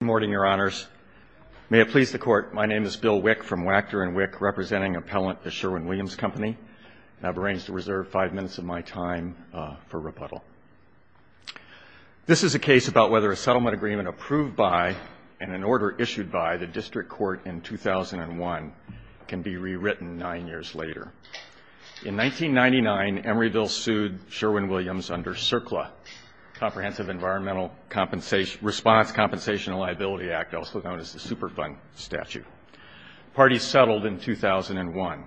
Good morning, Your Honors. May it please the Court, my name is Bill Wick from Wachter & Wick, representing appellant the Sherwin-Williams Company. I've arranged to reserve five minutes of my time for rebuttal. This is a case about whether a settlement agreement approved by and an order issued by the District Court in 2001 can be rewritten nine years later. In 1999, Emeryville sued Sherwin-Williams under CERCLA, Comprehensive Environmental Response Compensation and Liability Act, also known as the Superfund statute. Parties settled in 2001.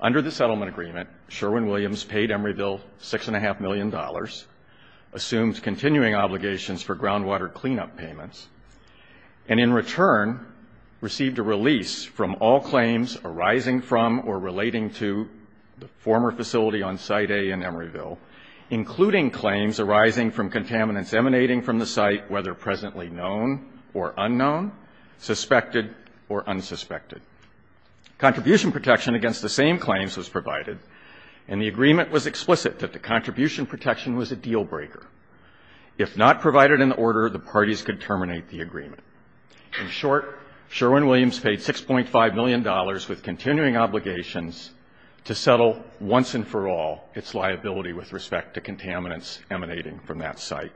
Under the settlement agreement, Sherwin-Williams paid Emeryville $6.5 million, assumed continuing obligations for groundwater cleanup payments, and in return received a release from all claims arising from or relating to the former facility on Site A in Emeryville, including claims arising from contaminants emanating from the site, whether presently known or unknown, suspected or unsuspected. Contribution protection against the same claims was provided, and the agreement was explicit that the contribution protection was a deal-breaker. If not provided in the order, the parties could terminate the agreement. In short, Sherwin-Williams paid $6.5 million with continuing obligations to settle once and for all its liability with respect to contaminants emanating from that site.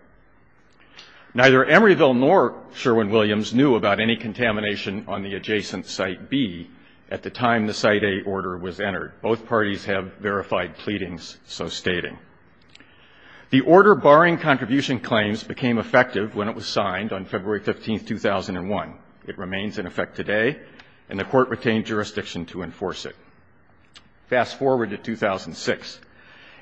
Neither Emeryville nor Sherwin-Williams knew about any contamination on the adjacent Site B at the time the Site A order was entered. Both parties have verified pleadings, so stating. The order barring contribution claims became effective when it was signed on February 15, 2001. It remains in effect today, and the Court retained jurisdiction to enforce it. Fast forward to 2006.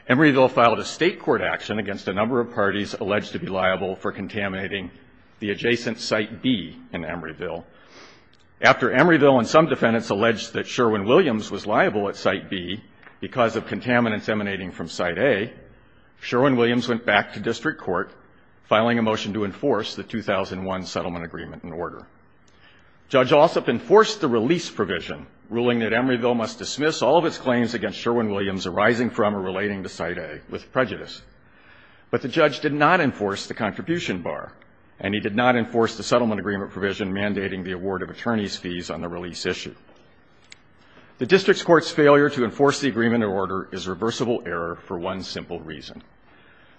Emeryville filed a state court action against a number of parties alleged to be liable for contaminating the adjacent Site B in Emeryville. After Emeryville and some defendants alleged that Sherwin-Williams was liable at Site B because of contaminants emanating from Site A, Sherwin-Williams went back to district court, filing a motion to enforce the 2001 settlement agreement and order. Judge Ossoff enforced the release provision, ruling that Emeryville must dismiss all of its claims against Sherwin-Williams arising from or relating to Site A with prejudice. But the judge did not enforce the contribution bar, and he did not enforce the settlement agreement provision mandating the award of attorney's fees on the release issue. The district court's failure to enforce the agreement and order is reversible error for one simple reason.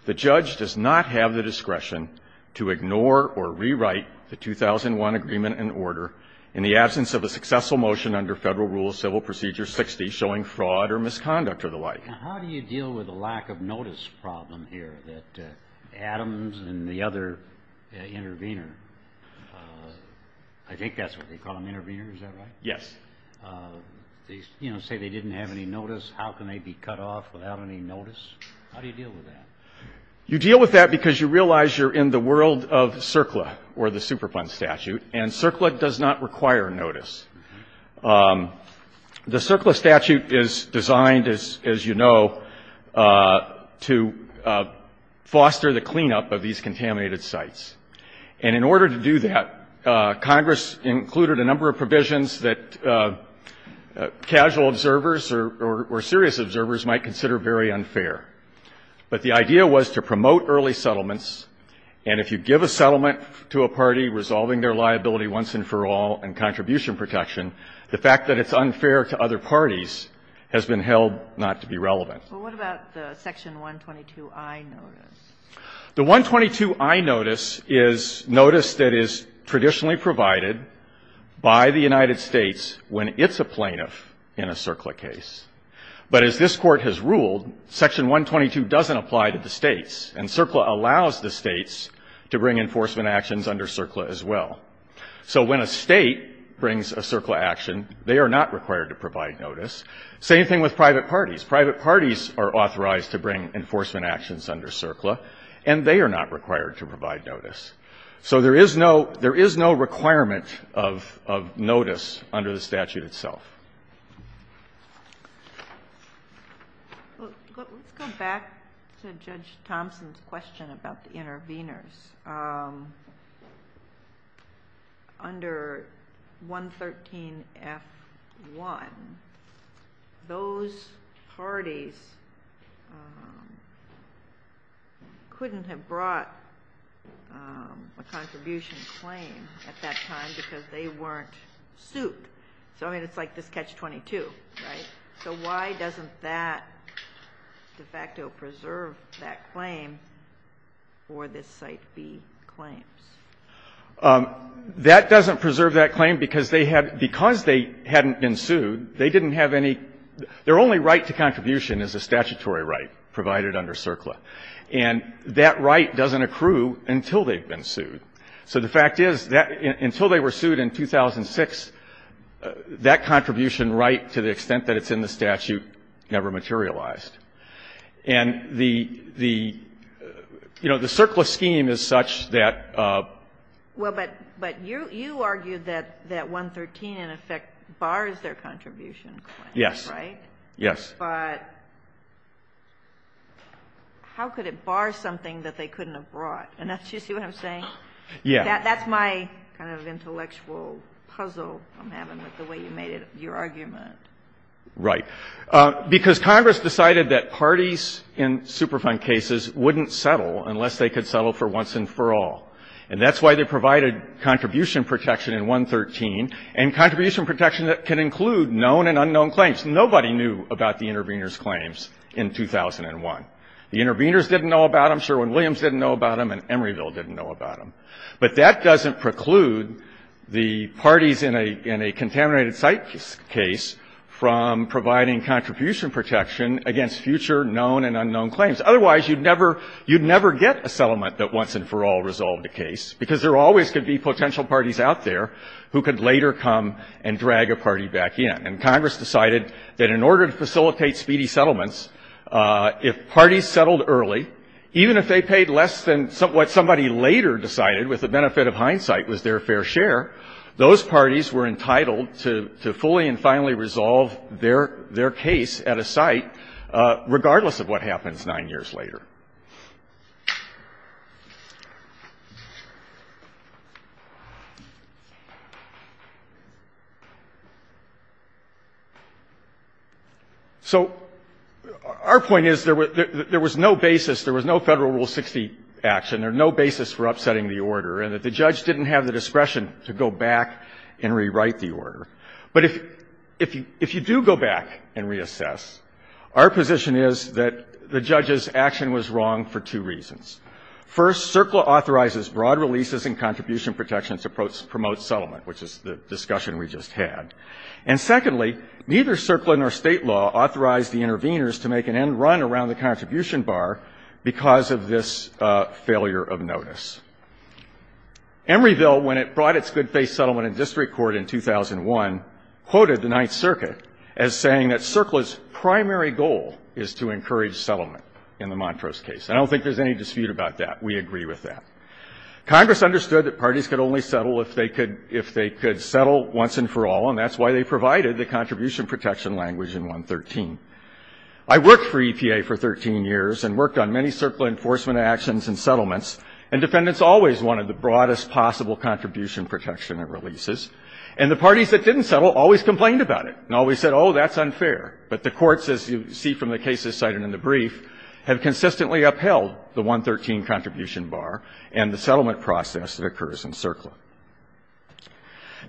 The judge does not have the discretion to ignore or rewrite the 2001 agreement and order in the absence of a successful motion under Federal Rules Civil Procedure 60 showing fraud or misconduct or the like. Now, how do you deal with the lack of notice problem here that Adams and the other intervener? I think that's what they call them, intervener. Is that right? Yes. They, you know, say they didn't have any notice. How can they be cut off without any notice? How do you deal with that? You deal with that because you realize you're in the world of CERCLA or the Superfund statute, and CERCLA does not require notice. The CERCLA statute is designed, as you know, to foster the cleanup of these contaminated sites. And in order to do that, Congress included a number of provisions that casual observers or serious observers might consider very unfair. But the idea was to promote early settlements, and if you give a settlement to a party resolving their liability once and for all and contribution protection, the fact that it's unfair to other parties has been held not to be relevant. But what about the Section 122i notice? The 122i notice is notice that is traditionally provided by the United States when it's a plaintiff in a CERCLA case. But as this Court has ruled, Section 122 doesn't apply to the States, and CERCLA allows the States to bring enforcement actions under CERCLA as well. So when a State brings a CERCLA action, they are not required to provide notice. Same thing with private parties. Private parties are authorized to bring enforcement actions under CERCLA, and they are not required to provide notice. So there is no requirement of notice under the statute itself. Let's go back to Judge Thompson's question about the interveners. Under 113f1, those parties couldn't have brought a contribution claim at that time because they weren't sued. So, I mean, it's like this Catch-22, right? So why doesn't that de facto preserve that claim or this Site B claims? That doesn't preserve that claim because they had been sued, they didn't have any – their only right to contribution is a statutory right provided under CERCLA. And that right doesn't accrue until they've been sued. So the fact is that until they were sued in 2006, that contribution right to the extent that it's in the statute never materialized. And the, you know, the CERCLA scheme is such that – Well, but you argued that 113 in effect bars their contribution claim, right? Yes. But how could it bar something that they couldn't have brought? Do you see what I'm saying? Yeah. That's my kind of intellectual puzzle I'm having with the way you made your argument. Right. Because Congress decided that parties in Superfund cases wouldn't settle unless they could settle for once and for all. And that's why they provided contribution protection in 113. And contribution protection can include known and unknown claims. Nobody knew about the interveners' claims in 2001. The interveners didn't know about them. Sherwin-Williams didn't know about them and Emeryville didn't know about them. But that doesn't preclude the parties in a contaminated site case from providing contribution protection against future known and unknown claims. Otherwise, you'd never get a settlement that once and for all resolved the case, because there always could be potential parties out there who could later come and drag a party back in. And Congress decided that in order to facilitate speedy settlements, if parties settled early, even if they paid less than what somebody later decided, with the benefit of hindsight, was their fair share, those parties were entitled to fully and finally resolve their case at a site, regardless of what happens nine years later. So our point is there was no basis, there was no Federal Rule 60 action, there was no basis for upsetting the order, and that the judge didn't have the discretion to go back and rewrite the order. But if you do go back and reassess, our position is that the judge's action was wrong for two reasons. First, CERCLA authorizes broad releases and contribution protections to promote settlement, which is the discussion we just had. And secondly, neither CERCLA nor State law authorized the interveners to make an end run around the contribution bar because of this failure of notice. Emeryville, when it brought its good faith settlement in district court in 2001, quoted the Ninth Circuit as saying that CERCLA's primary goal is to encourage settlement. Now, I don't think that's the case. I don't think there's any dispute about that. We agree with that. Congress understood that parties could only settle if they could settle once and for all, and that's why they provided the contribution protection language in 113. I worked for EPA for 13 years and worked on many CERCLA enforcement actions and settlements, and defendants always wanted the broadest possible contribution protection at releases, and the parties that didn't settle always complained about it and always said, oh, that's unfair. But the courts, as you see from the cases cited in the brief, have consistently upheld the 113 contribution bar and the settlement process that occurs in CERCLA.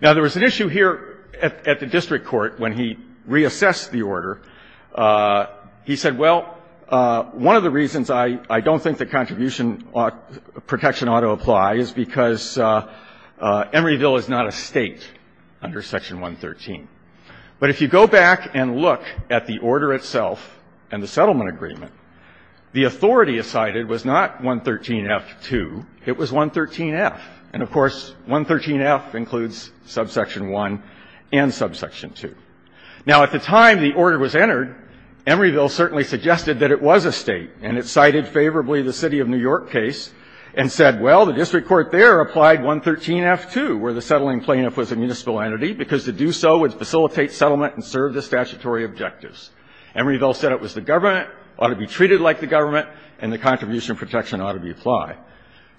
Now, there was an issue here at the district court when he reassessed the order. He said, well, one of the reasons I don't think the contribution protection ought to apply is because Emeryville is not a State under Section 113. But if you go back and look at the order itself and the settlement agreement, the authority cited was not 113F2, it was 113F. And, of course, 113F includes subsection 1 and subsection 2. Now, at the time the order was entered, Emeryville certainly suggested that it was a State, and it cited favorably the city of New York case and said, well, the district court there applied 113F2, where the settling plaintiff was a municipal entity, because to do so would facilitate settlement and serve the statutory objectives. Emeryville said it was the government, ought to be treated like the government, and the contribution protection ought to be applied.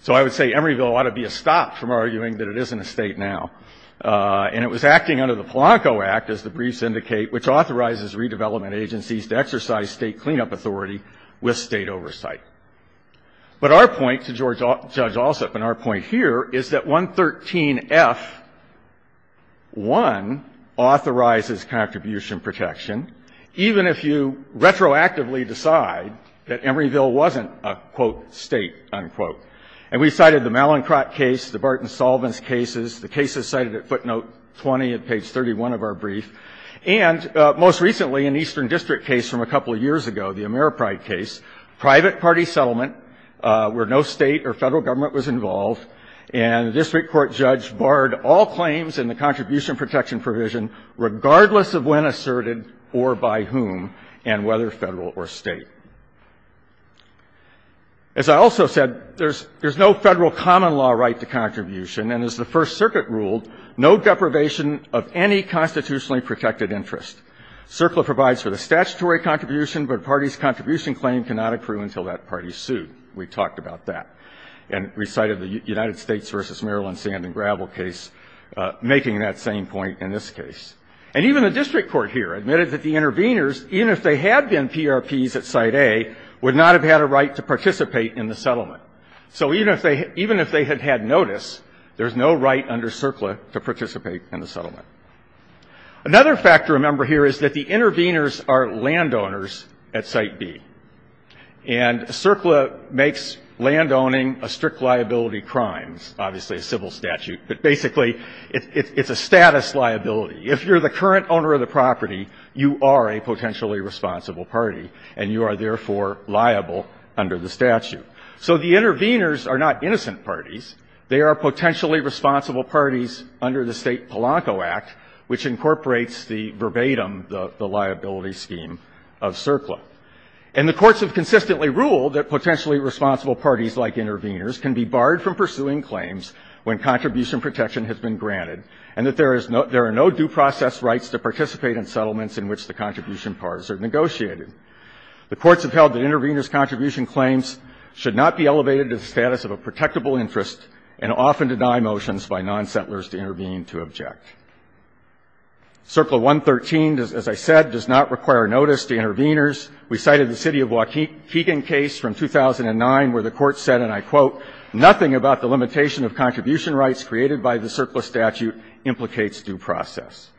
So I would say Emeryville ought to be a stop from arguing that it isn't a State now. And it was acting under the Polanco Act, as the briefs indicate, which authorizes redevelopment agencies to exercise State cleanup authority with State oversight. But our point to Judge Alsup and our point here is that 113F1 authorizes contribution protection, even if you retroactively decide that Emeryville wasn't a, quote, State, unquote. And we cited the Mallinckrodt case, the Barton-Solvins cases, the cases cited at footnote 20 of page 31 of our brief, and most recently an eastern district case from a couple of years ago, the Ameripride case, private party settlement where no State or Federal government was involved. And the district court judge barred all claims in the contribution protection provision, regardless of when asserted or by whom, and whether Federal or State. As I also said, there's no Federal common law right to contribution, and as the First Circuit ruled, no deprivation of any constitutionally protected interest. CERCLA provides for the statutory contribution, but a party's contribution claim cannot accrue until that party's sued. We talked about that. And we cited the United States v. Maryland sand and gravel case, making that same point in this case. And even the district court here admitted that the interveners, even if they had been PRPs at Site A, would not have had a right to participate in the settlement. So even if they had had notice, there's no right under CERCLA to participate in the settlement. Another fact to remember here is that the interveners are landowners at Site B. And CERCLA makes landowning a strict liability crimes, obviously a civil statute, but basically it's a status liability. If you're the current owner of the property, you are a potentially responsible party, and you are therefore liable under the statute. So the interveners are not innocent parties. They are potentially responsible parties under the State Polanco Act, which incorporates the verbatim, the liability scheme of CERCLA. And the courts have consistently ruled that potentially responsible parties like interveners can be barred from pursuing claims when contribution protection has been granted, and that there is no – there are no due process rights to participate in settlements in which the contribution parties are negotiated. The courts have held that interveners' contribution claims should not be elevated to the status of a protectable interest and often deny motions by nonsettlers to intervene to object. CERCLA 113, as I said, does not require notice to interveners. We cited the city of Waukegan case from 2009 where the courts said, and I quote, nothing about the limitation of contribution rights created by the CERCLA statute implicates due process.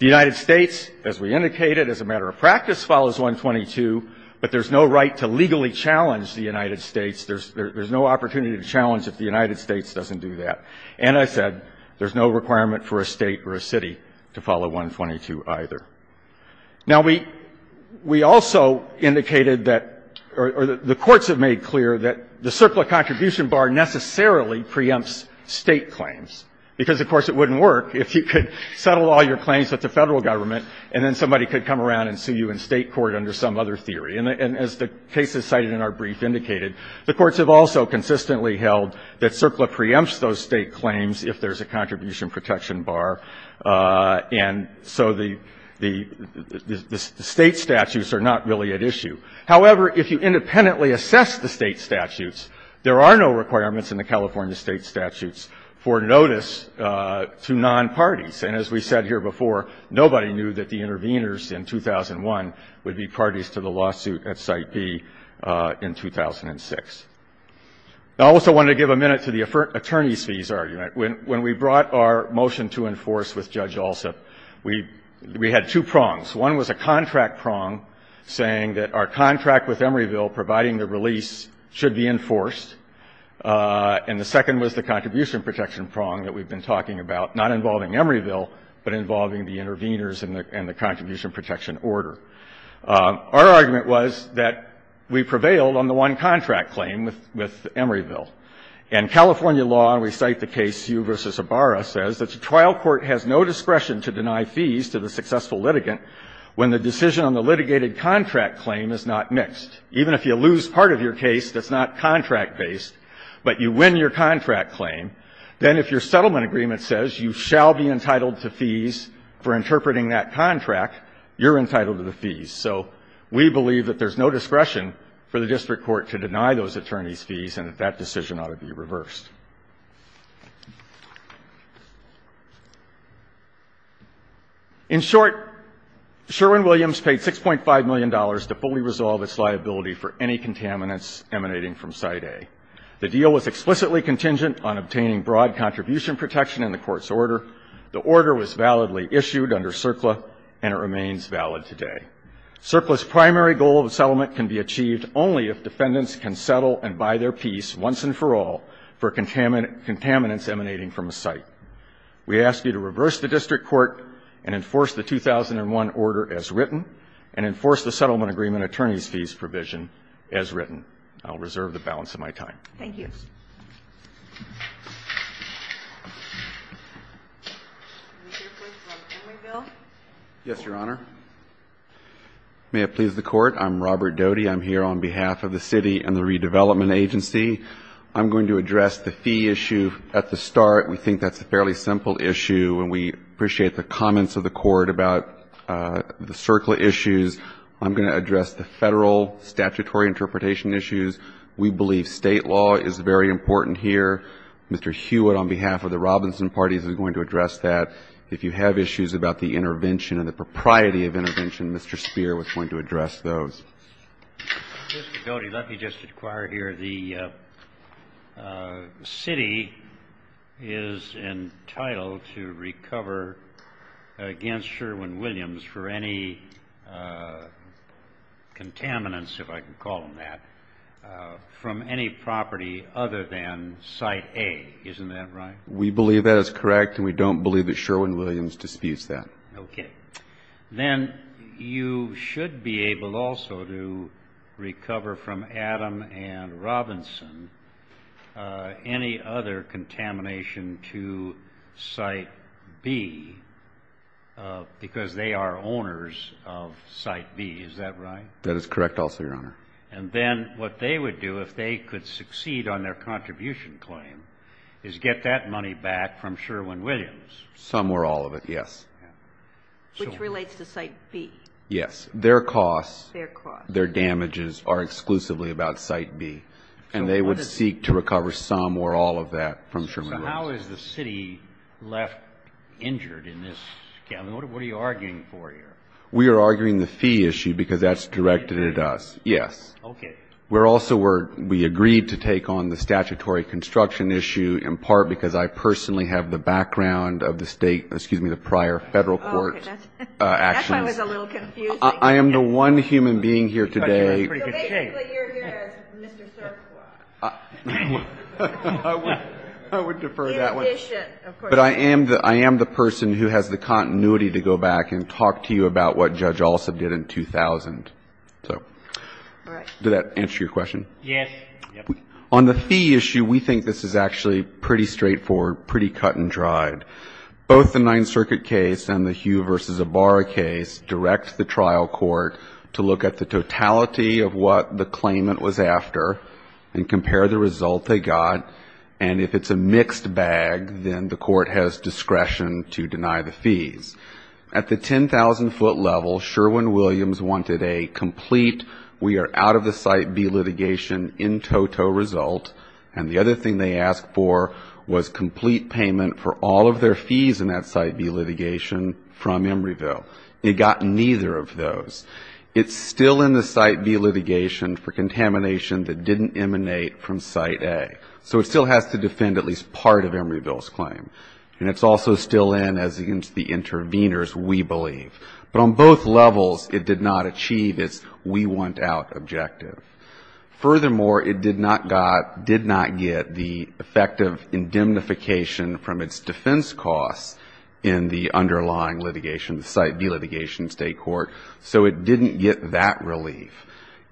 The United States, as we indicated, as a matter of practice, follows 122, but there's no right to legally challenge the United States. There's no opportunity to challenge if the United States doesn't do that. And I said there's no requirement for a State or a city to follow 122 either. Now, we also indicated that – or the courts have made clear that the CERCLA contribution bar necessarily preempts State claims, because, of course, it wouldn't work if you could settle all your claims with the Federal Government and then somebody could come around and sue you in State court under some other theory. And as the cases cited in our brief indicated, the courts have also consistently held that CERCLA preempts those State claims if there's a contribution protection bar, and so the State statutes are not really at issue. However, if you independently assess the State statutes, there are no requirements in the California State statutes for notice to nonparties. And as we said here before, nobody knew that the interveners in 2001 would be parties to the lawsuit at Site B in 2006. I also wanted to give a minute to the attorneys' fees argument. When we brought our motion to enforce with Judge Alsop, we had two prongs. One was a contract prong saying that our contract with Emeryville providing the release should be enforced, and the second was the contribution protection prong that we've been talking about, not involving Emeryville, but involving the interveners and the contribution protection order. Our argument was that we prevailed on the one contract claim with Emeryville. And California law, and we cite the case Hugh v. Ibarra, says that the trial court has no discretion to deny fees to the successful litigant when the decision on the litigated contract claim is not mixed. Even if you lose part of your case that's not contract-based, but you win your contract claim, then if your settlement agreement says you shall be entitled to fees for interpreting that contract, you're entitled to the fees. So we believe that there's no discretion for the district court to deny those attorneys' fees and that that decision ought to be reversed. In short, Sherwin-Williams paid $6.5 million to fully resolve its liability for any contaminants emanating from Site A. The deal was explicitly contingent on obtaining broad contribution protection in the court's order. The order was validly issued under CERCLA and it remains valid today. CERCLA's primary goal of the settlement can be achieved only if defendants can settle and buy their peace once and for all for contaminants emanating from a site. We ask you to reverse the district court and enforce the 2001 order as written and enforce the settlement agreement attorney's fees provision as written. I'll reserve the balance of my time. Thank you. Roberts. Yes, Your Honor. May it please the Court. I'm Robert Doty. I'm here on behalf of the City and the Redevelopment Agency. I'm going to address the fee issue at the start. We think that's a fairly simple issue and we appreciate the comments of the Court about the CERCLA issues. I'm going to address the Federal statutory interpretation issues. We believe State law is very important here. Mr. Hewitt on behalf of the Robinson Party is going to address that. If you have issues about the intervention and the propriety of intervention, Mr. Speier was going to address those. Mr. Doty, let me just inquire here. The City is entitled to recover against Sherwin-Williams for any contaminants, if I can call them that, from any property other than Site A. Isn't that right? We believe that is correct and we don't believe that Sherwin-Williams disputes that. Okay. Then you should be able also to recover from Adam and Robinson any other contamination to Site B because they are owners of Site B. Is that right? That is correct also, Your Honor. And then what they would do, if they could succeed on their contribution claim, is get that money back from Sherwin-Williams. Some or all of it, yes. Which relates to Site B. Yes. Their costs, their damages are exclusively about Site B. And they would seek to recover some or all of that from Sherwin-Williams. So how is the City left injured in this? What are you arguing for here? We are arguing the fee issue because that's directed at us. Yes. Okay. We agreed to take on the statutory construction issue in part because I personally have the background of the state, excuse me, the prior federal court actions. That's why I was a little confused. I am the one human being here today. So basically you're here as Mr. Cerquois. I would defer that one. In addition, of course. But I am the person who has the continuity to go back and talk to you about what Judge Alsop did in 2000. So does that answer your question? Yes. On the fee issue, we think this is actually pretty straightforward, pretty cut and dried. Both the Ninth Circuit case and the Hugh v. Ibarra case direct the trial court to look at the totality of what the claimant was after and compare the result they got. And if it's a mixed bag, then the court has discretion to deny the fees. At the 10,000-foot level, Sherwin-Williams wanted a complete we are out of the Site B litigation in toto result. And the other thing they asked for was complete payment for all of their fees in that Site B litigation from Embryville. They got neither of those. It's still in the Site B litigation for contamination that didn't emanate from Site A. So it still has to defend at least part of Embryville's claim. And it's also still in as against the intervenors, we believe. But on both levels, it did not achieve its we want out objective. Furthermore, it did not got, did not get the effective indemnification from its defense costs in the underlying litigation, the Site B litigation in State court. So it didn't get that relief.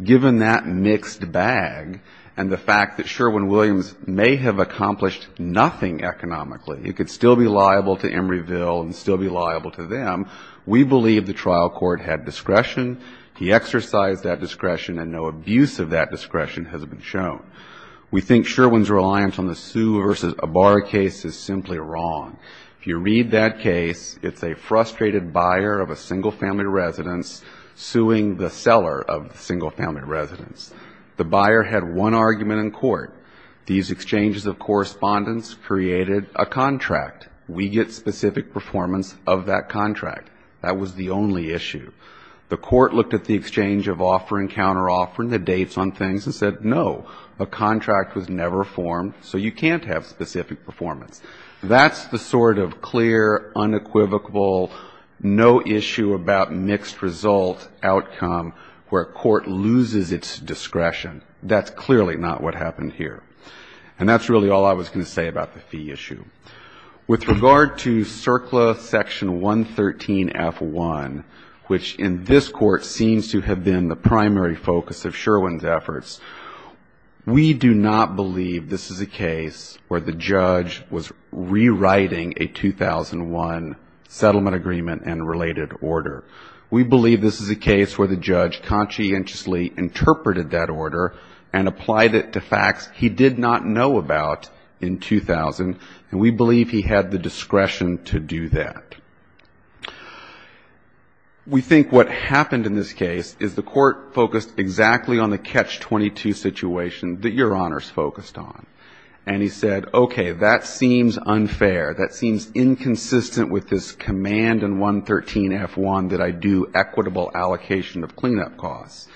Given that mixed bag and the fact that Sherwin-Williams may have accomplished nothing economically, it could still be liable to Embryville and still be liable to them, we believe the trial court had discretion. He exercised that discretion, and no abuse of that discretion has been shown. We think Sherwin's reliance on the Sue v. Abar case is simply wrong. If you read that case, it's a frustrated buyer of a single-family residence suing the seller of the single-family residence. The buyer had one argument in court. These exchanges of correspondence created a contract. We get specific performance of that contract. That was the only issue. The court looked at the exchange of offer and counteroffer and the dates on things and said, no, a contract was never formed, so you can't have specific performance. That's the sort of clear, unequivocal, no-issue-about-mixed-result outcome where a court loses its discretion. That's clearly not what happened here. And that's really all I was going to say about the fee issue. With regard to CERCLA Section 113f1, which in this Court seems to have been the primary focus of Sherwin's efforts, we do not believe this is a case where the judge was rewriting a 2001 settlement agreement and related order. We believe this is a case where the judge conscientiously interpreted that order and applied it to facts he did not know about in 2000, and we believe he had the discretion to do that. We think what happened in this case is the court focused exactly on the catch-22 situation that Your Honors focused on. And he said, okay, that seems unfair. That seems inconsistent with this command in 113f1 that I do equitable allocation of cleanup costs.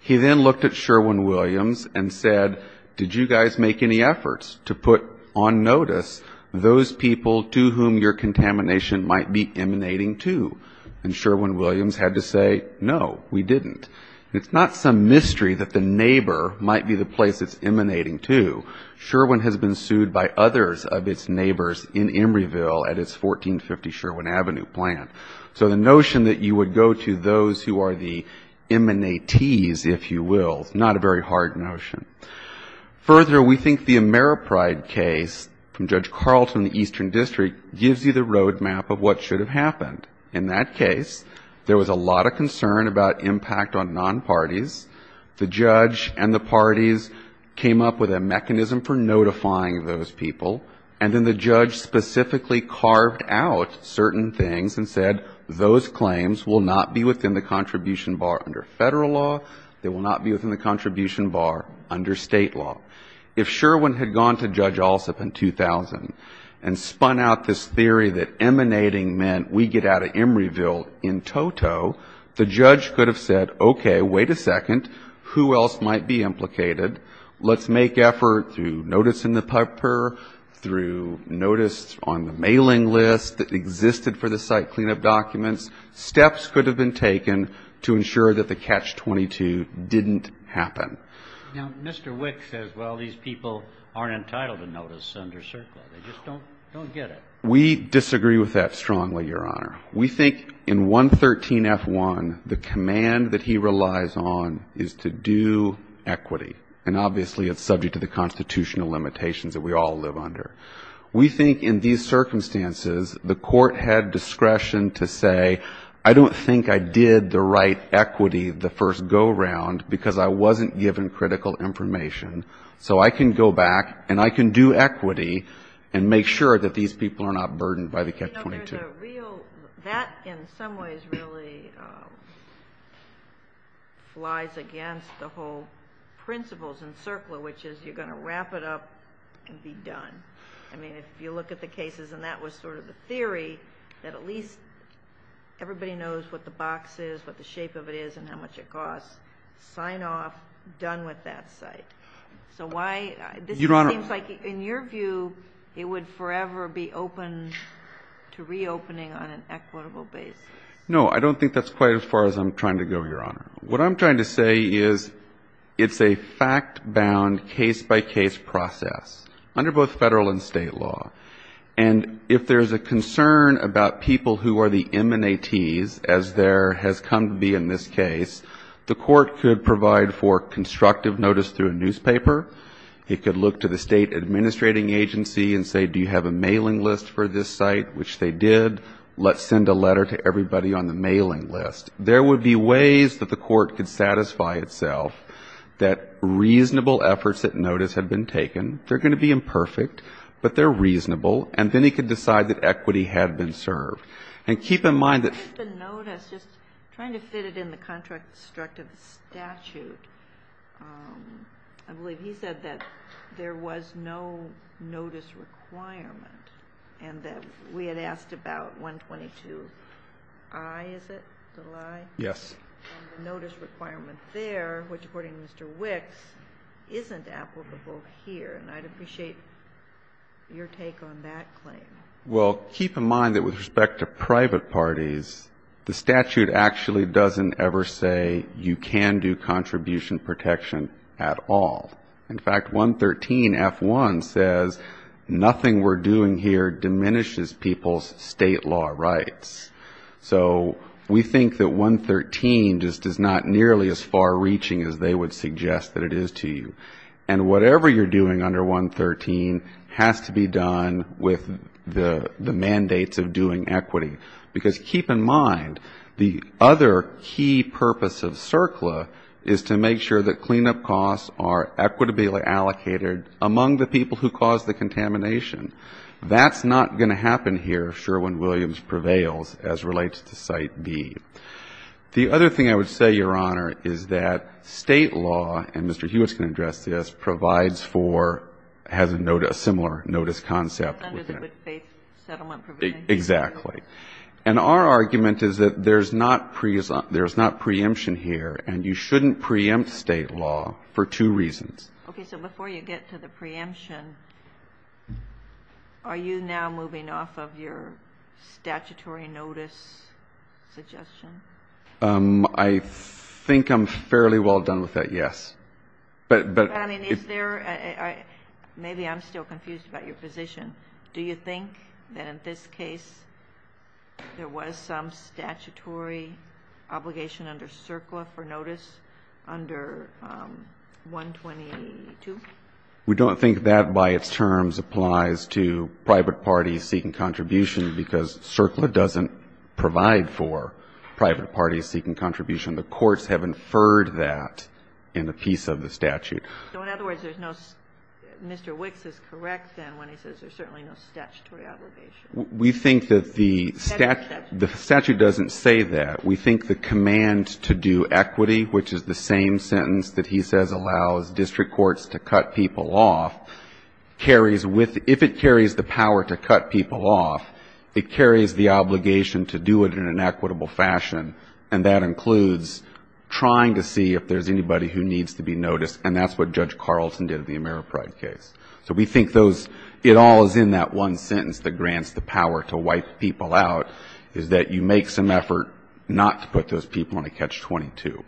He then looked at Sherwin-Williams and said, did you guys make any efforts to put on notice those people to whom your contamination might be emanating to? And Sherwin-Williams had to say, no, we didn't. And it's not some mystery that the neighbor might be the place it's emanating to. Sherwin has been sued by others of its neighbors in Emeryville at its 1450 Sherwin Avenue plan. So the notion that you would go to those who are the emanatees, if you will, is not a very hard notion. Further, we think the Ameripride case from Judge Carlton in the Eastern District gives you the road map of what should have happened. In that case, there was a lot of concern about impact on non-parties. The judge and the parties came up with a mechanism for notifying those people, and then the judge specifically carved out certain things and said those claims will not be within the contribution bar under Federal law, they will not be within the contribution bar under State law. If Sherwin had gone to Judge Alsup in 2000 and spun out this theory that emanating meant we get out of Emeryville in toto, the judge could have said, okay, wait a second, who else might be implicated? Let's make effort through notice in the case that existed for the site cleanup documents. Steps could have been taken to ensure that the Catch-22 didn't happen. Now, Mr. Wick says, well, these people aren't entitled to notice under CERCLA. They just don't get it. We disagree with that strongly, Your Honor. We think in 113F1, the command that he relies on is to do equity, and obviously it's subject to the constitutional limitations that we all live under. We think in these circumstances, the Court had discretion to say, I don't think I did the right equity the first go-round because I wasn't given critical information, so I can go back and I can do equity and make sure that these people are not burdened by the Catch-22. That in some ways really flies against the whole principles in CERCLA, which is you're going to wrap it up and be done. I mean, if you look at the cases, and that was sort of the theory, that at least everybody knows what the box is, what the shape of it is, and how much it costs, sign off, done with that site. So why — this seems like, in your view, it would forever be open to reopening on an equitable basis. No, I don't think that's quite as far as I'm trying to go, Your Honor. What I'm trying to say is it's a fact-bound, case-by-case process under both Federal and State law. And if there's a concern about people who are the M&ATs, as there has come to be in this case, the Court could provide for constructive notice through a newspaper. It could look to the State administrating agency and say, do you have a mailing list for this site, which they did. Let's send a letter to everybody on the mailing list. There would be ways that the Court could satisfy itself that reasonable efforts at notice had been taken. They're going to be imperfect, but they're reasonable. And then it could decide that equity had been served. And keep in mind that — I think the notice, just trying to fit it in the constructive statute, I believe he said that there was no notice requirement, and that we had asked about 122i, is it, the lie? Yes. And the notice requirement there, which according to Mr. Wicks, isn't applicable here. And I'd appreciate your take on that claim. Well, keep in mind that with respect to private parties, the statute actually doesn't ever say you can do contribution protection at all. In fact, 113f1 says nothing we're doing here diminishes people's state law rights. So we think that 113 just is not nearly as far reaching as they would suggest that it is to you. And whatever you're doing under 113 has to be done with the mandates of doing equity. Because keep in mind, the other key purpose of CERCLA is to make sure that cleanup costs are equitably allocated among the people who caused the contamination. That's not going to happen here if Sherwin Williams prevails as relates to Site D. The other thing I would say, Your Honor, is that State law, and Mr. Hewitt's going to address this, provides for — has a similar notice concept. Under the good faith settlement provision. Exactly. And our argument is that there's not preemption here, and you shouldn't preempt State law for two reasons. Okay. So before you get to the preemption, are you now moving off of your statutory notice suggestion? I think I'm fairly well done with that, yes. But is there — maybe I'm still confused about your position. Do you think that in this case there was some statutory obligation under CERCLA for notice under 122? We don't think that by its terms applies to private parties seeking contribution because CERCLA doesn't provide for private parties seeking contribution. The courts have inferred that in a piece of the statute. So in other words, there's no — Mr. Wicks is correct then when he says there's certainly no statutory obligation. We think that the statute doesn't say that. We think the command to do equity, which is the same sentence that he says allows district courts to cut people off, carries with — if it carries the power to cut people off, it carries the obligation to do it in an equitable fashion, and that includes trying to see if there's anybody who needs to be noticed, and that's what Judge Carlson did in the Ameripride case. So we think those — it all is in that one sentence that grants the power to wipe people out is that you make some effort not to put those people on a catch-22.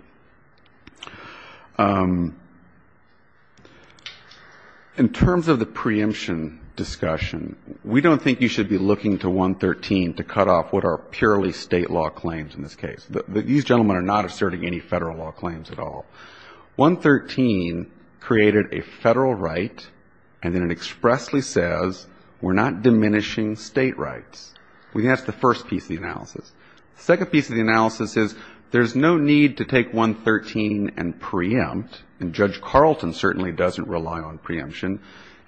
In terms of the preemption discussion, we don't think you should be looking to 113 to cut off what are purely State law claims in this case. These gentlemen are not asserting any Federal law claims at all. 113 created a Federal right, and then it expressly says we're not diminishing State rights. We think that's the first piece of the analysis. The second piece of the analysis is there's no need to take 113 and preempt, and Judge Carlson certainly doesn't rely on preemption,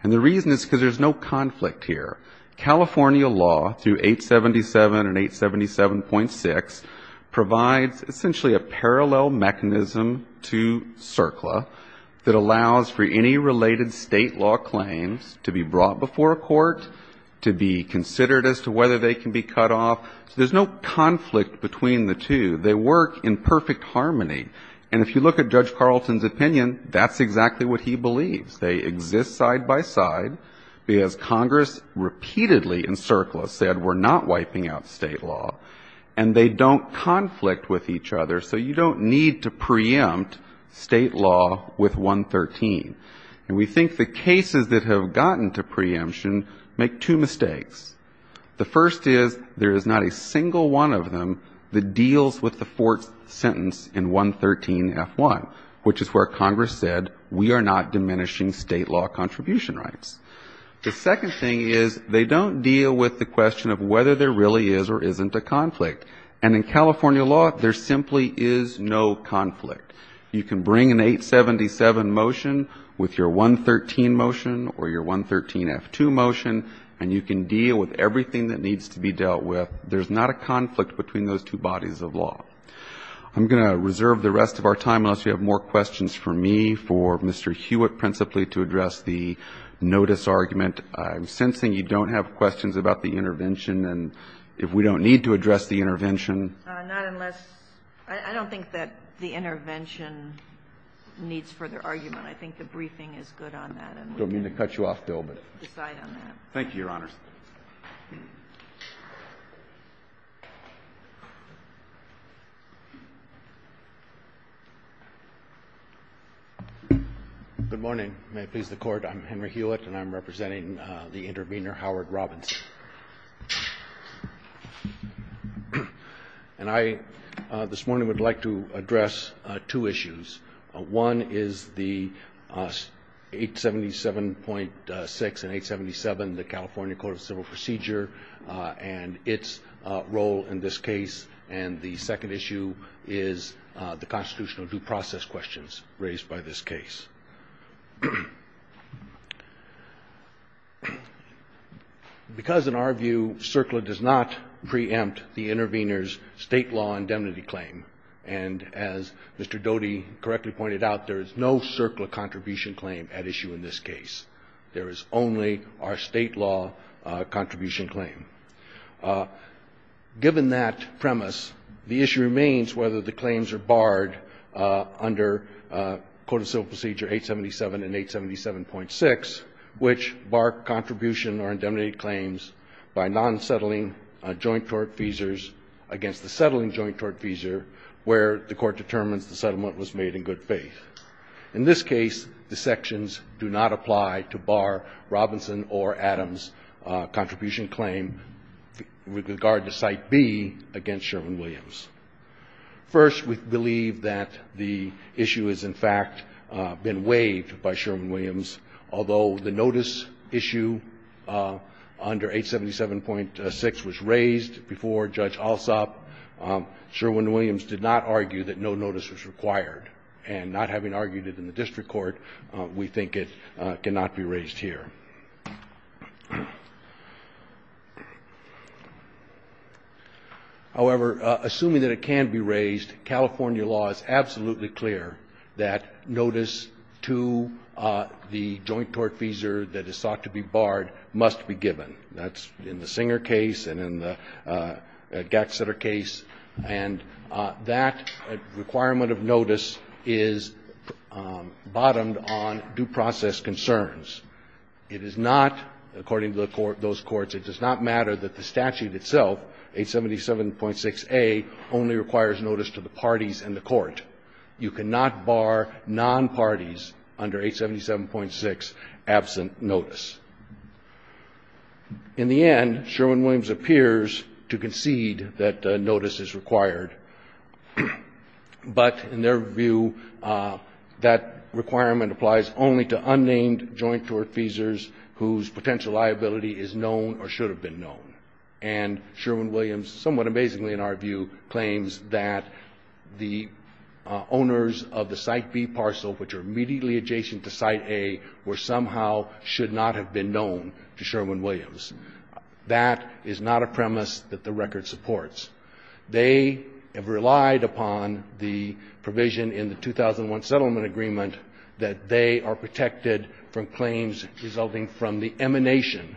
and the reason is because there's no conflict here. California law, through 877 and 877.6, provides essentially a parallel mechanism to preempting to CERCLA that allows for any related State law claims to be brought before a court, to be considered as to whether they can be cut off. So there's no conflict between the two. They work in perfect harmony. And if you look at Judge Carlson's opinion, that's exactly what he believes. They exist side by side because Congress repeatedly in CERCLA said we're not wiping out State law, and they don't conflict with each other, so you don't need to preempt State law with 113. And we think the cases that have gotten to preemption make two mistakes. The first is there is not a single one of them that deals with the fourth sentence in 113.f.1, which is where Congress said we are not diminishing State law contribution rights. The second thing is they don't deal with the question of whether there really is or isn't a conflict. And in California law, there simply is no conflict. You can bring an 877 motion with your 113 motion or your 113.f.2 motion, and you can deal with everything that needs to be dealt with. There's not a conflict between those two bodies of law. I'm going to reserve the rest of our time, unless you have more questions for me, for Mr. Hewitt principally to address the notice argument. I'm sensing you don't have questions about the intervention. And if we don't need to address the intervention. I don't think that the intervention needs further argument. I think the briefing is good on that. I don't mean to cut you off, Bill, but thank you, Your Honors. Good morning. May it please the Court, I'm Henry Hewitt, and I'm representing the intervener, Howard Robinson. And I, this morning, would like to address two issues. One is the 877.6 and 877, the California Code of Civil Procedure, and its role in this case. And the second issue is the constitutional due process questions raised by this case. Because in our view, CERCLA does not preempt the intervener's state law indemnity claim. And as Mr. Doty correctly pointed out, there is no CERCLA contribution claim at issue in this case. There is only our state law contribution claim. Given that premise, the issue remains whether the claims are barred under Code of Civil Procedure 877 and 877.6, which bar contribution or indemnity claims by non-settling joint tort feasors against the settling joint tort feasor where the Court determines the settlement was made in good faith. In this case, the sections do not apply to bar Robinson or Adams' contribution claim with regard to Site B against Sherman Williams. First, we believe that the issue has, in fact, been waived by Sherman Williams, although the notice issue under 877.6 was raised before Judge Alsop. Sherman Williams did not argue that no notice was required. And not having argued it in the district court, we think it cannot be raised here. However, assuming that it can be raised, California law is absolutely clear that notice to the joint tort feasor that is sought to be barred must be given. That's in the Singer case and in the Gatzetter case. And that requirement of notice is bottomed on due process concerns. It is not, according to those courts, it does not matter that the statute itself, 877.6a, only requires notice to the parties in the court. You cannot bar non-parties under 877.6 absent notice. In the end, Sherman Williams appears to concede that notice is required. But in their view, that requirement applies only to unnamed joint tort feasors whose potential liability is known or should have been known. And Sherman Williams, somewhat amazingly in our view, claims that the owners of the Site B parcel, which are immediately adjacent to Site A, were somehow should not have been known to Sherman Williams. That is not a premise that the record supports. They have relied upon the provision in the 2001 settlement agreement that they are protected from claims resulting from the emanation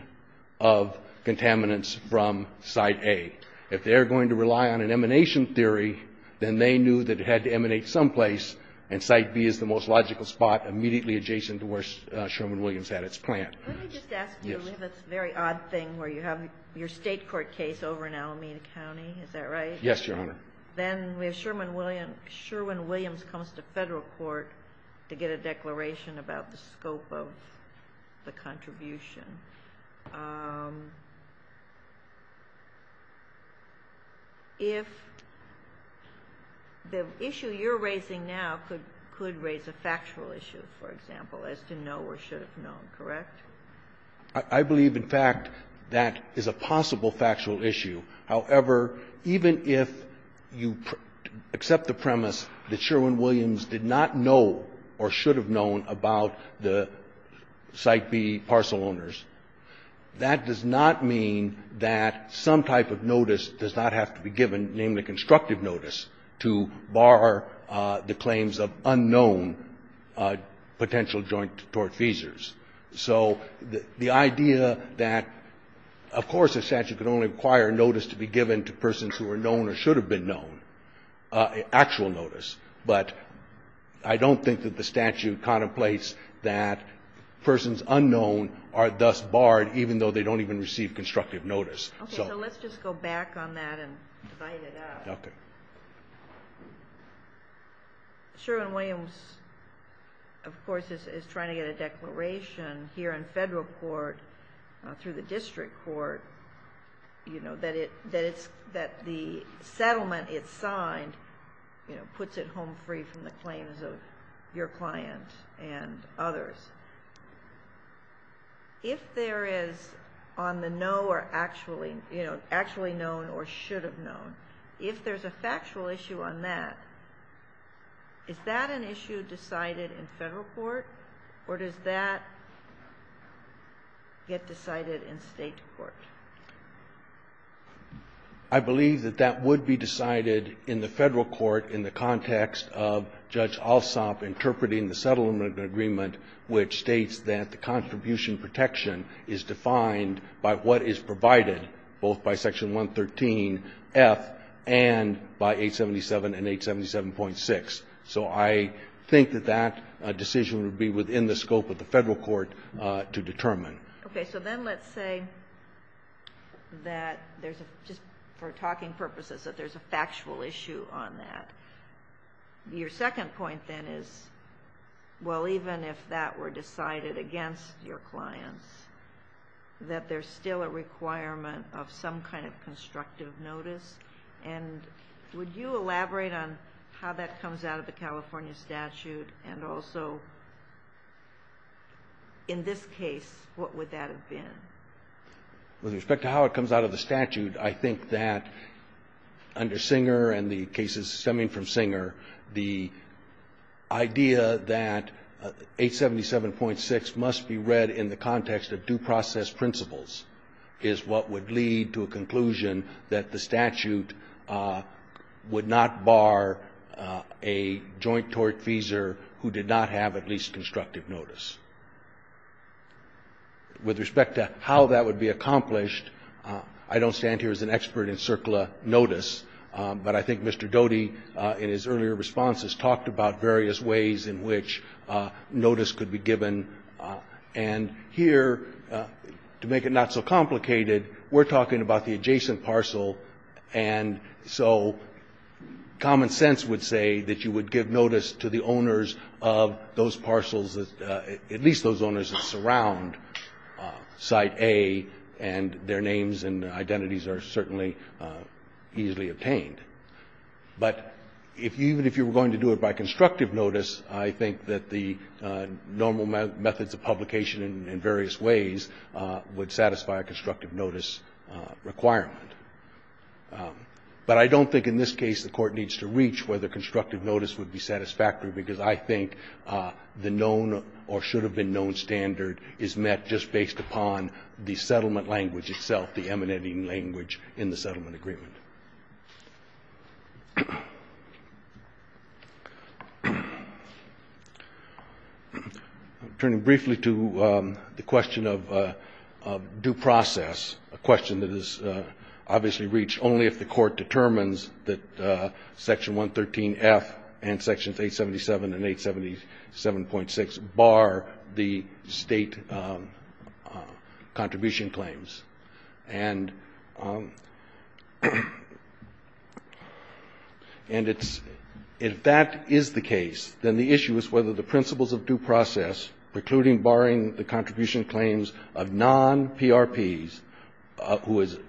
of contaminants from Site A. If they're going to rely on an emanation theory, then they knew that it had to emanate someplace, and Site B is the most logical spot immediately adjacent to where Sherman Williams had its plant. Yes. Let me just ask you. We have this very odd thing where you have your State court case over in Alameda County. Is that right? Yes, Your Honor. Then we have Sherman Williams comes to Federal court to get a declaration about the scope of the contribution. If the issue you're raising now could raise a factual issue, for example, as to know or should have known, correct? I believe, in fact, that is a possible factual issue. However, even if you accept the premise that Sherman Williams did not know or should have known about the Site B parcel owners, that does not mean that some type of notice does not have to be given, namely constructive notice, to bar the claims of unknown potential joint tort feasors. So the idea that, of course, a statute could only require a notice to be given to persons who are known or should have been known, actual notice, but I don't think that the statute contemplates that persons unknown are thus barred, even though they don't even receive constructive notice. Okay. So let's just go back on that and divide it up. Okay. Sherman Williams, of course, is trying to get a declaration here in Federal court through the district court that the settlement it signed puts it home free from the claims of your client and others. If there is on the know or actually, you know, actually known or should have known, if there's a factual issue on that, is that an issue decided in Federal court or does that get decided in State court? I believe that that would be decided in the Federal court in the context of Judge Alsop interpreting the settlement agreement, which states that the contribution protection is defined by what is provided both by Section 113F and by 877 and 877.6. So I think that that decision would be within the scope of the Federal court to determine. Okay. So then let's say that there's a, just for talking purposes, that there's a factual issue on that. Your second point then is, well, even if that were decided against your clients, that there's still a requirement of some kind of constructive notice. And would you elaborate on how that comes out of the California statute and also in this case, what would that have been? With respect to how it comes out of the statute, I think that under Singer and the cases stemming from Singer, the idea that 877.6 must be read in the context of due process principles is what would lead to a conclusion that the statute would not bar a joint tortfeasor who did not have at least constructive notice. With respect to how that would be accomplished, I don't stand here as an expert in CERCLA notice, but I think Mr. Doty in his earlier responses talked about various ways in which notice could be given. And here, to make it not so complicated, we're talking about the adjacent parcel, and so common sense would say that you would give notice to the owners of those parcels, at least those owners that surround Site A, and their names and identities are certainly easily obtained. But even if you were going to do it by constructive notice, I think that the normal methods of publication in various ways would satisfy a constructive notice requirement. But I don't think in this case the Court needs to reach whether constructive notice would be satisfactory, because I think the known or should have been known standard is met just based upon the settlement language itself, the emanating language in the settlement agreement. Turning briefly to the question of due process, a question that is obviously reached only if the Court determines that Section 113F and Sections 877 and 877.6 bar the State contribution claims. And if that is the case, then the issue is whether the principles of due process, including barring the contribution claims of non-PRPs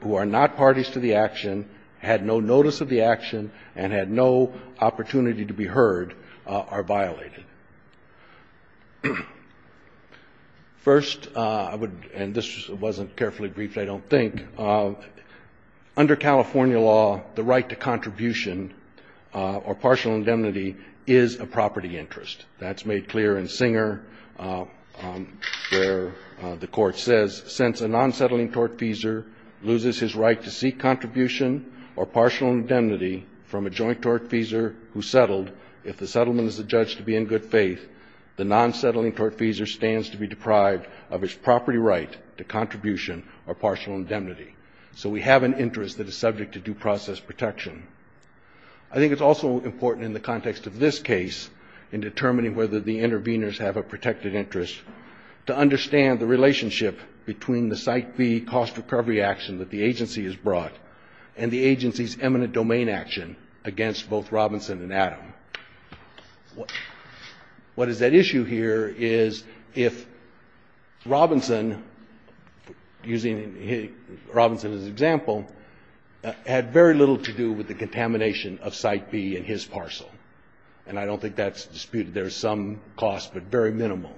who are not parties to the action, had no notice of the action, and had no opportunity to be heard, are violated. First, I would, and this wasn't carefully briefed, I don't think. Under California law, the right to contribution or partial indemnity is a property interest. That's made clear in Singer where the Court says since a non-settling tortfeasor loses his right to seek contribution or partial indemnity from a joint tortfeasor who settled, if the settlement is adjudged to be in good faith, the non-settling tortfeasor stands to be deprived of his property right to contribution or partial indemnity. So we have an interest that is subject to due process protection. I think it's also important in the context of this case in determining whether the interveners have a protected interest to understand the relationship between the site fee cost recovery action that the agency has brought and the agency's dominant domain action against both Robinson and Adam. What is at issue here is if Robinson, using Robinson as an example, had very little to do with the contamination of Site B in his parcel, and I don't think that's disputed. There's some cost, but very minimal.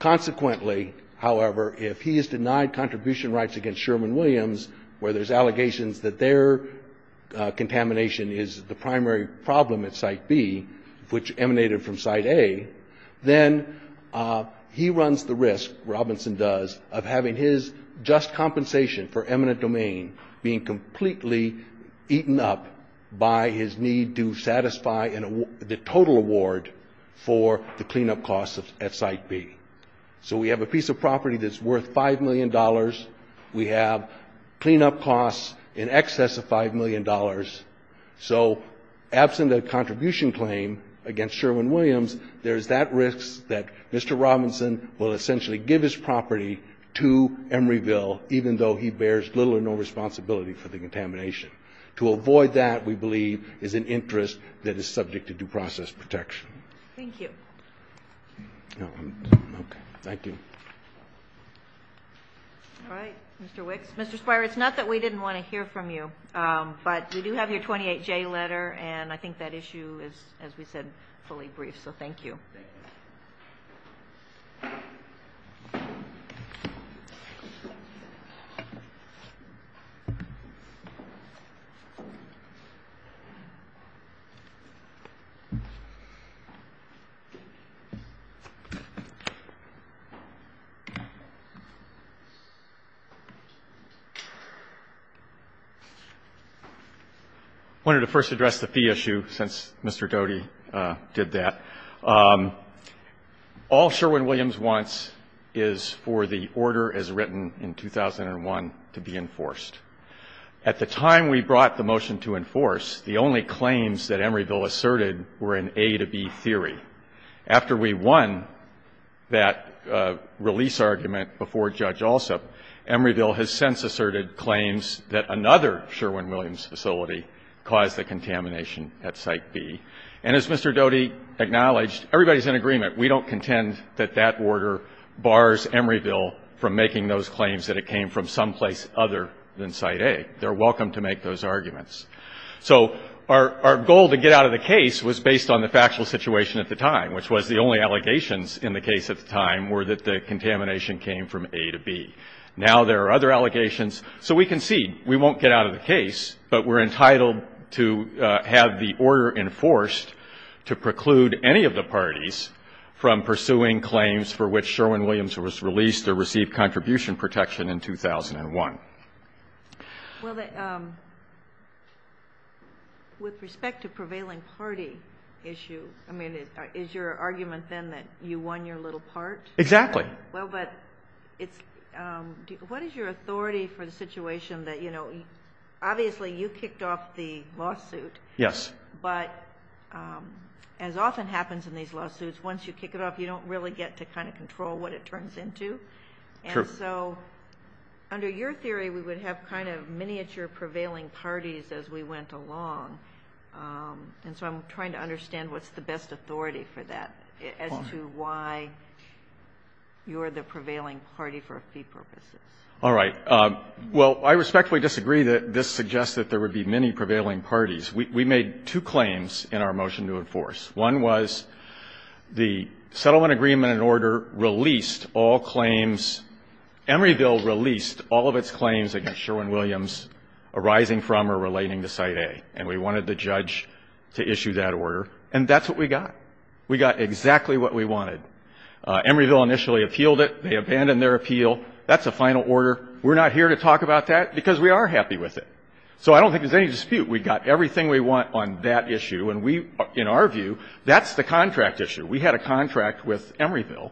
Consequently, however, if he is denied contribution rights against Sherman Williams, where there's allegations that their contamination is the primary problem at Site B, which emanated from Site A, then he runs the risk, Robinson does, of having his just compensation for eminent domain being completely eaten up by his need to satisfy the total award for the cleanup costs at Site B. So we have a piece of property that's worth $5 million. We have cleanup costs in excess of $5 million. So absent a contribution claim against Sherman Williams, there's that risk that Mr. Robinson will essentially give his property to Emeryville, even though he bears little or no responsibility for the contamination. To avoid that, we believe, is an interest that is subject to due process protection. Thank you. Okay, thank you. All right, Mr. Wicks. Mr. Spire, it's not that we didn't want to hear from you, but we do have your 28J letter, and I think that issue is, as we said, fully briefed. So thank you. I wanted to first address the fee issue, since Mr. Doty did that. All Sherman Williams wants is for the order as written in 2001 to be enforced. At the time we brought the motion to enforce, the only claims that Emeryville asserted were in A to B theory. After we won that release argument before Judge Alsop, Emeryville has since asserted claims that another Sherman Williams facility caused the contamination at Site B. And as Mr. Doty acknowledged, everybody's in agreement. We don't contend that that order bars Emeryville from making those claims that it came from someplace other than Site A. They're welcome to make those arguments. So our goal to get out of the case was based on the factual situation at the time, which was the only allegations in the case at the time were that the contamination came from A to B. Now there are other allegations. So we concede we won't get out of the case, but we're entitled to have the order enforced to preclude any of the parties from pursuing claims for which Sherman Williams was released or received contribution protection in 2001. Well, with respect to prevailing party issue, I mean, is your argument then that you won your little part? Exactly. Well, but what is your authority for the situation that, you know, obviously you kicked off the lawsuit. Yes. But as often happens in these lawsuits, once you kick it off, you don't really get to kind of control what it turns into. True. So under your theory, we would have kind of miniature prevailing parties as we went along. And so I'm trying to understand what's the best authority for that as to why you're the prevailing party for fee purposes. All right. Well, I respectfully disagree that this suggests that there would be many prevailing parties. We made two claims in our motion to enforce. One was the settlement agreement and order released all claims. Emeryville released all of its claims against Sherman Williams arising from or relating to Site A. And we wanted the judge to issue that order. And that's what we got. We got exactly what we wanted. Emeryville initially appealed it. They abandoned their appeal. That's a final order. We're not here to talk about that because we are happy with it. So I don't think there's any dispute. We got everything we want on that issue. And we, in our view, that's the contract issue. We had a contract with Emeryville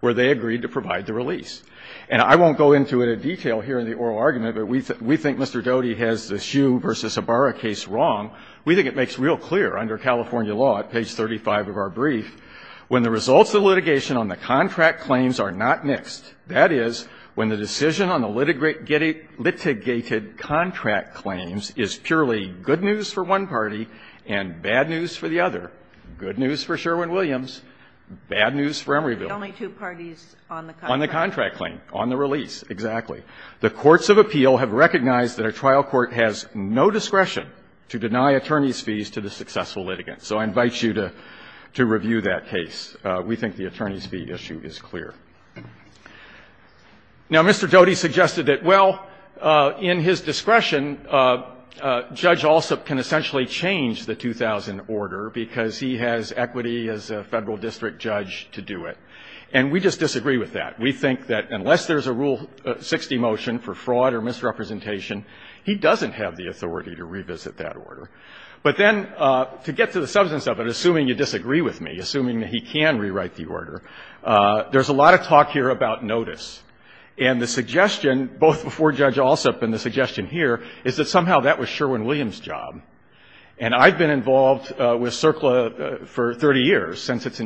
where they agreed to provide the release. And I won't go into it in detail here in the oral argument, but we think Mr. Doty has the Hsu v. Ibarra case wrong. We think it makes real clear under California law, at page 35 of our brief, when the results of the litigation on the contract claims are not mixed, that is, when the decision on the litigated contract claims is purely good news for one party and bad news for the other, good news for Sherwin-Williams, bad news for Emeryville. The only two parties on the contract. On the contract claim, on the release, exactly. The courts of appeal have recognized that a trial court has no discretion to deny attorneys' fees to the successful litigant. So I invite you to review that case. We think the attorneys' fee issue is clear. Now, Mr. Doty suggested that, well, in his discretion, Judge Alsop can essentially change the 2000 order because he has equity as a Federal district judge to do it. And we just disagree with that. We think that unless there's a Rule 60 motion for fraud or misrepresentation, he doesn't have the authority to revisit that order. But then, to get to the substance of it, assuming you disagree with me, assuming that he can rewrite the order, there's a lot of talk here about notice. And the suggestion, both before Judge Alsop and the suggestion here, is that somehow that was Sherwin-Williams' job. And I've been involved with CERCLA for 30 years, since its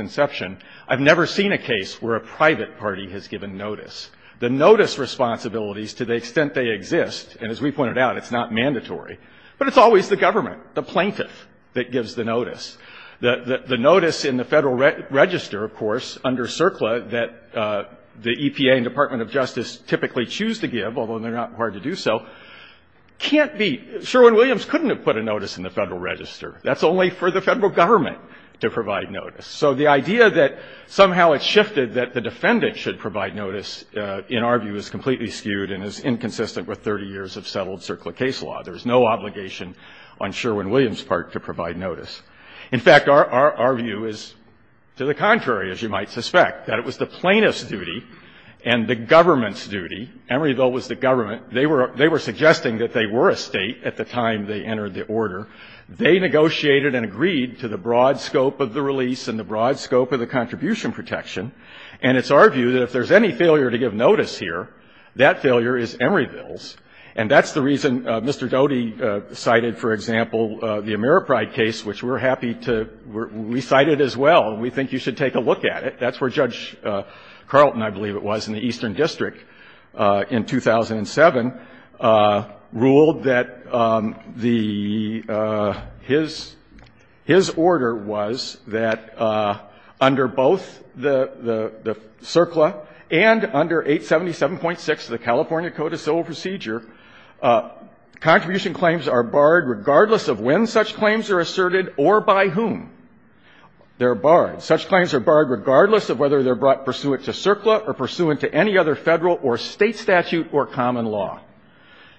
inception. I've never seen a case where a private party has given notice. The notice responsibilities, to the extent they exist, and as we pointed out, it's not mandatory, but it's always the government, the plaintiff, that gives the notice. The notice in the Federal Register, of course, under CERCLA, that the EPA and Department of Justice typically choose to give, although they're not required to do so, can't be. Sherwin-Williams couldn't have put a notice in the Federal Register. That's only for the Federal Government to provide notice. So the idea that somehow it shifted, that the defendant should provide notice, in our view, is completely skewed and is inconsistent with 30 years of settled CERCLA case law. There's no obligation on Sherwin-Williams' part to provide notice. In fact, our view is to the contrary, as you might suspect, that it was the plaintiff's government's duty. Emeryville was the government. They were suggesting that they were a State at the time they entered the order. They negotiated and agreed to the broad scope of the release and the broad scope of the contribution protection. And it's our view that if there's any failure to give notice here, that failure is Emeryville's. And that's the reason Mr. Doty cited, for example, the Ameripride case, which we're happy to we cite it as well, and we think you should take a look at it. That's where Judge Carlton, I believe it was, in the Eastern District in 2007, ruled that the his order was that under both the CERCLA and under 877.6 of the California Code of Civil Procedure, contribution claims are barred regardless of when such claims are asserted or by whom. They're barred. Such claims are barred regardless of whether they're brought pursuant to CERCLA or pursuant to any other Federal or State statute or common law.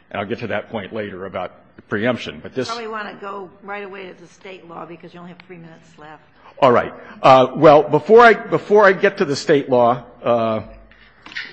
And I'll get to that point later about preemption. But this ---- We want to go right away to State law because you only have three minutes left. All right. Well, before I get to the State law,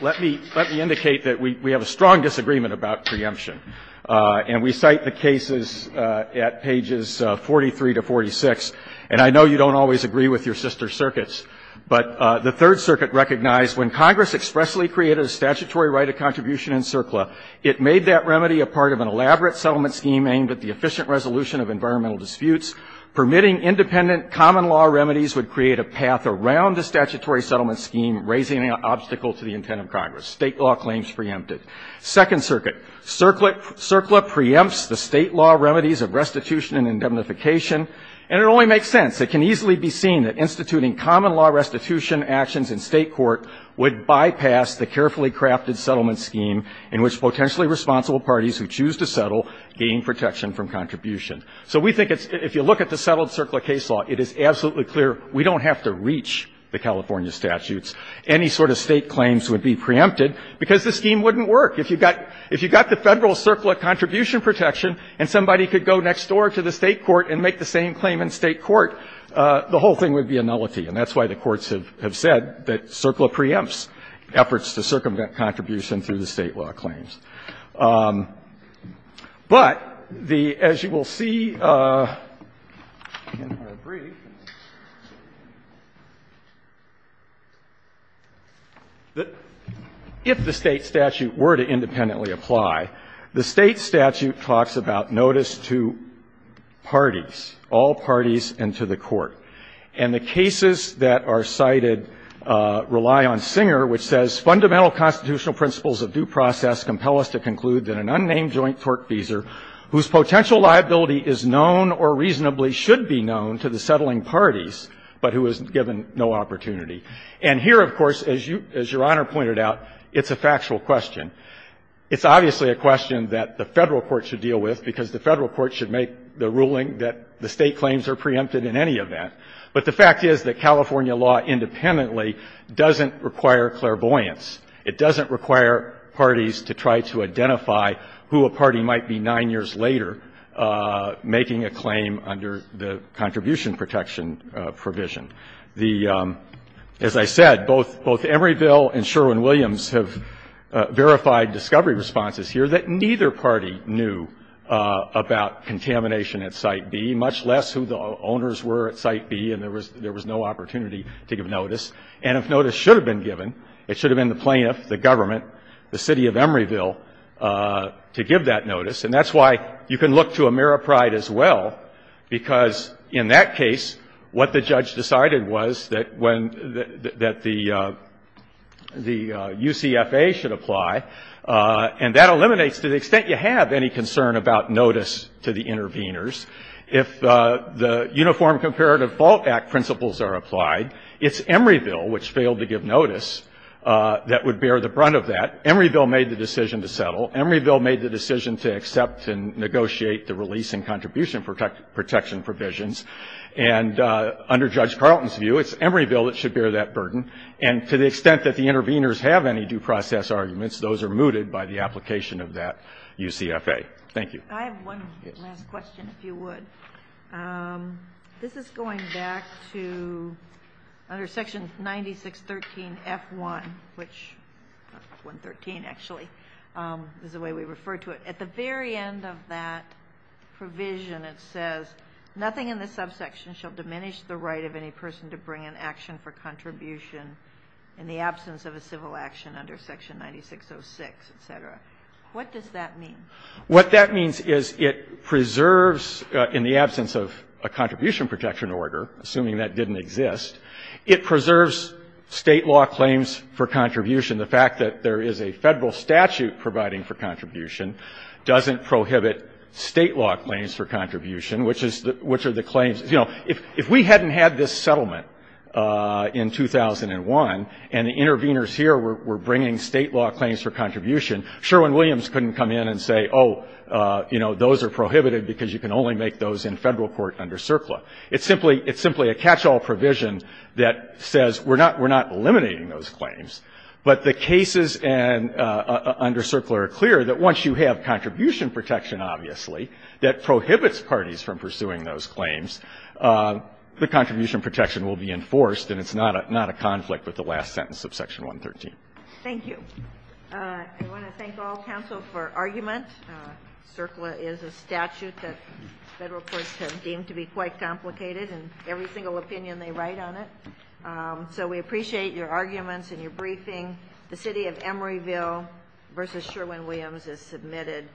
let me indicate that we have a strong disagreement about preemption. And we cite the cases at pages 43 to 46. And I know you don't always agree with your sister circuits. But the Third Circuit recognized when Congress expressly created a statutory right of contribution in CERCLA, it made that remedy a part of an elaborate settlement scheme aimed at the efficient resolution of environmental disputes, permitting independent common law remedies would create a path around the statutory settlement scheme, raising an obstacle to the intent of Congress. State law claims preempted. Second Circuit, CERCLA preempts the State law remedies of restitution and indemnification. And it only makes sense. It can easily be seen that instituting common law restitution actions in State court would bypass the carefully crafted settlement scheme in which potentially responsible parties who choose to settle gain protection from contribution. So we think it's ---- if you look at the settled CERCLA case law, it is absolutely clear we don't have to reach the California statutes. Any sort of State claims would be preempted because the scheme wouldn't work. If you got the Federal CERCLA contribution protection and somebody could go next door to the State court and make the same claim in State court, the whole thing would be a nullity. And that's why the courts have said that CERCLA preempts efforts to circumvent contribution through the State law claims. But the ---- as you will see in our brief, if the State statute were to independently apply, the State statute talks about notice to parties, all parties and to the court. And the cases that are cited rely on Singer, which says, Fundamental constitutional principles of due process compel us to conclude that an unnamed joint tortfeasor whose potential liability is known or reasonably should be known to the settling parties, but who is given no opportunity. And here, of course, as you ---- as Your Honor pointed out, it's a factual question. It's obviously a question that the Federal court should deal with because the Federal court should make the ruling that the State claims are preempted in any event. But the fact is that California law independently doesn't require clairvoyance. It doesn't require parties to try to identify who a party might be 9 years later making a claim under the contribution protection provision. The ---- as I said, both Emeryville and Sherwin-Williams have verified discovery responses here that neither party knew about contamination at Site B, much less who the owners were at Site B, and there was no opportunity to give notice. And if notice should have been given, it should have been the plaintiff, the government, the City of Emeryville, to give that notice. And that's why you can look to Ameripride as well, because in that case, what the Ameripride did was that when the UCFA should apply, and that eliminates to the extent you have any concern about notice to the interveners, if the Uniform Comparative Fault Act principles are applied, it's Emeryville which failed to give notice that would bear the brunt of that. Emeryville made the decision to settle. Emeryville made the decision to accept and negotiate the release and contribution protection provisions. And under Judge Carlton's view, it's Emeryville that should bear that burden. And to the extent that the interveners have any due process arguments, those are mooted by the application of that UCFA. Thank you. I have one last question, if you would. This is going back to under Section 9613F1, which 113, actually, is the way we refer to it. At the very end of that provision, it says, nothing in the subsection shall diminish the right of any person to bring an action for contribution in the absence of a civil action under Section 9606, et cetera. What does that mean? What that means is it preserves, in the absence of a contribution protection order, assuming that didn't exist, it preserves State law claims for contribution. The fact that there is a Federal statute providing for contribution doesn't prohibit State law claims for contribution, which are the claims. You know, if we hadn't had this settlement in 2001 and the interveners here were bringing State law claims for contribution, Sherwin-Williams couldn't come in and say, oh, you know, those are prohibited because you can only make those in Federal court under CERCLA. It's simply a catch-all provision that says we're not eliminating those claims. But the cases under CERCLA are clear that once you have contribution protection, obviously, that prohibits parties from pursuing those claims, the contribution protection will be enforced and it's not a conflict with the last sentence of Section 113. Thank you. I want to thank all counsel for argument. CERCLA is a statute that Federal courts have deemed to be quite complicated in every single opinion they write on it. So we appreciate your arguments and your briefing. The City of Emeryville v. Sherwin-Williams is submitted.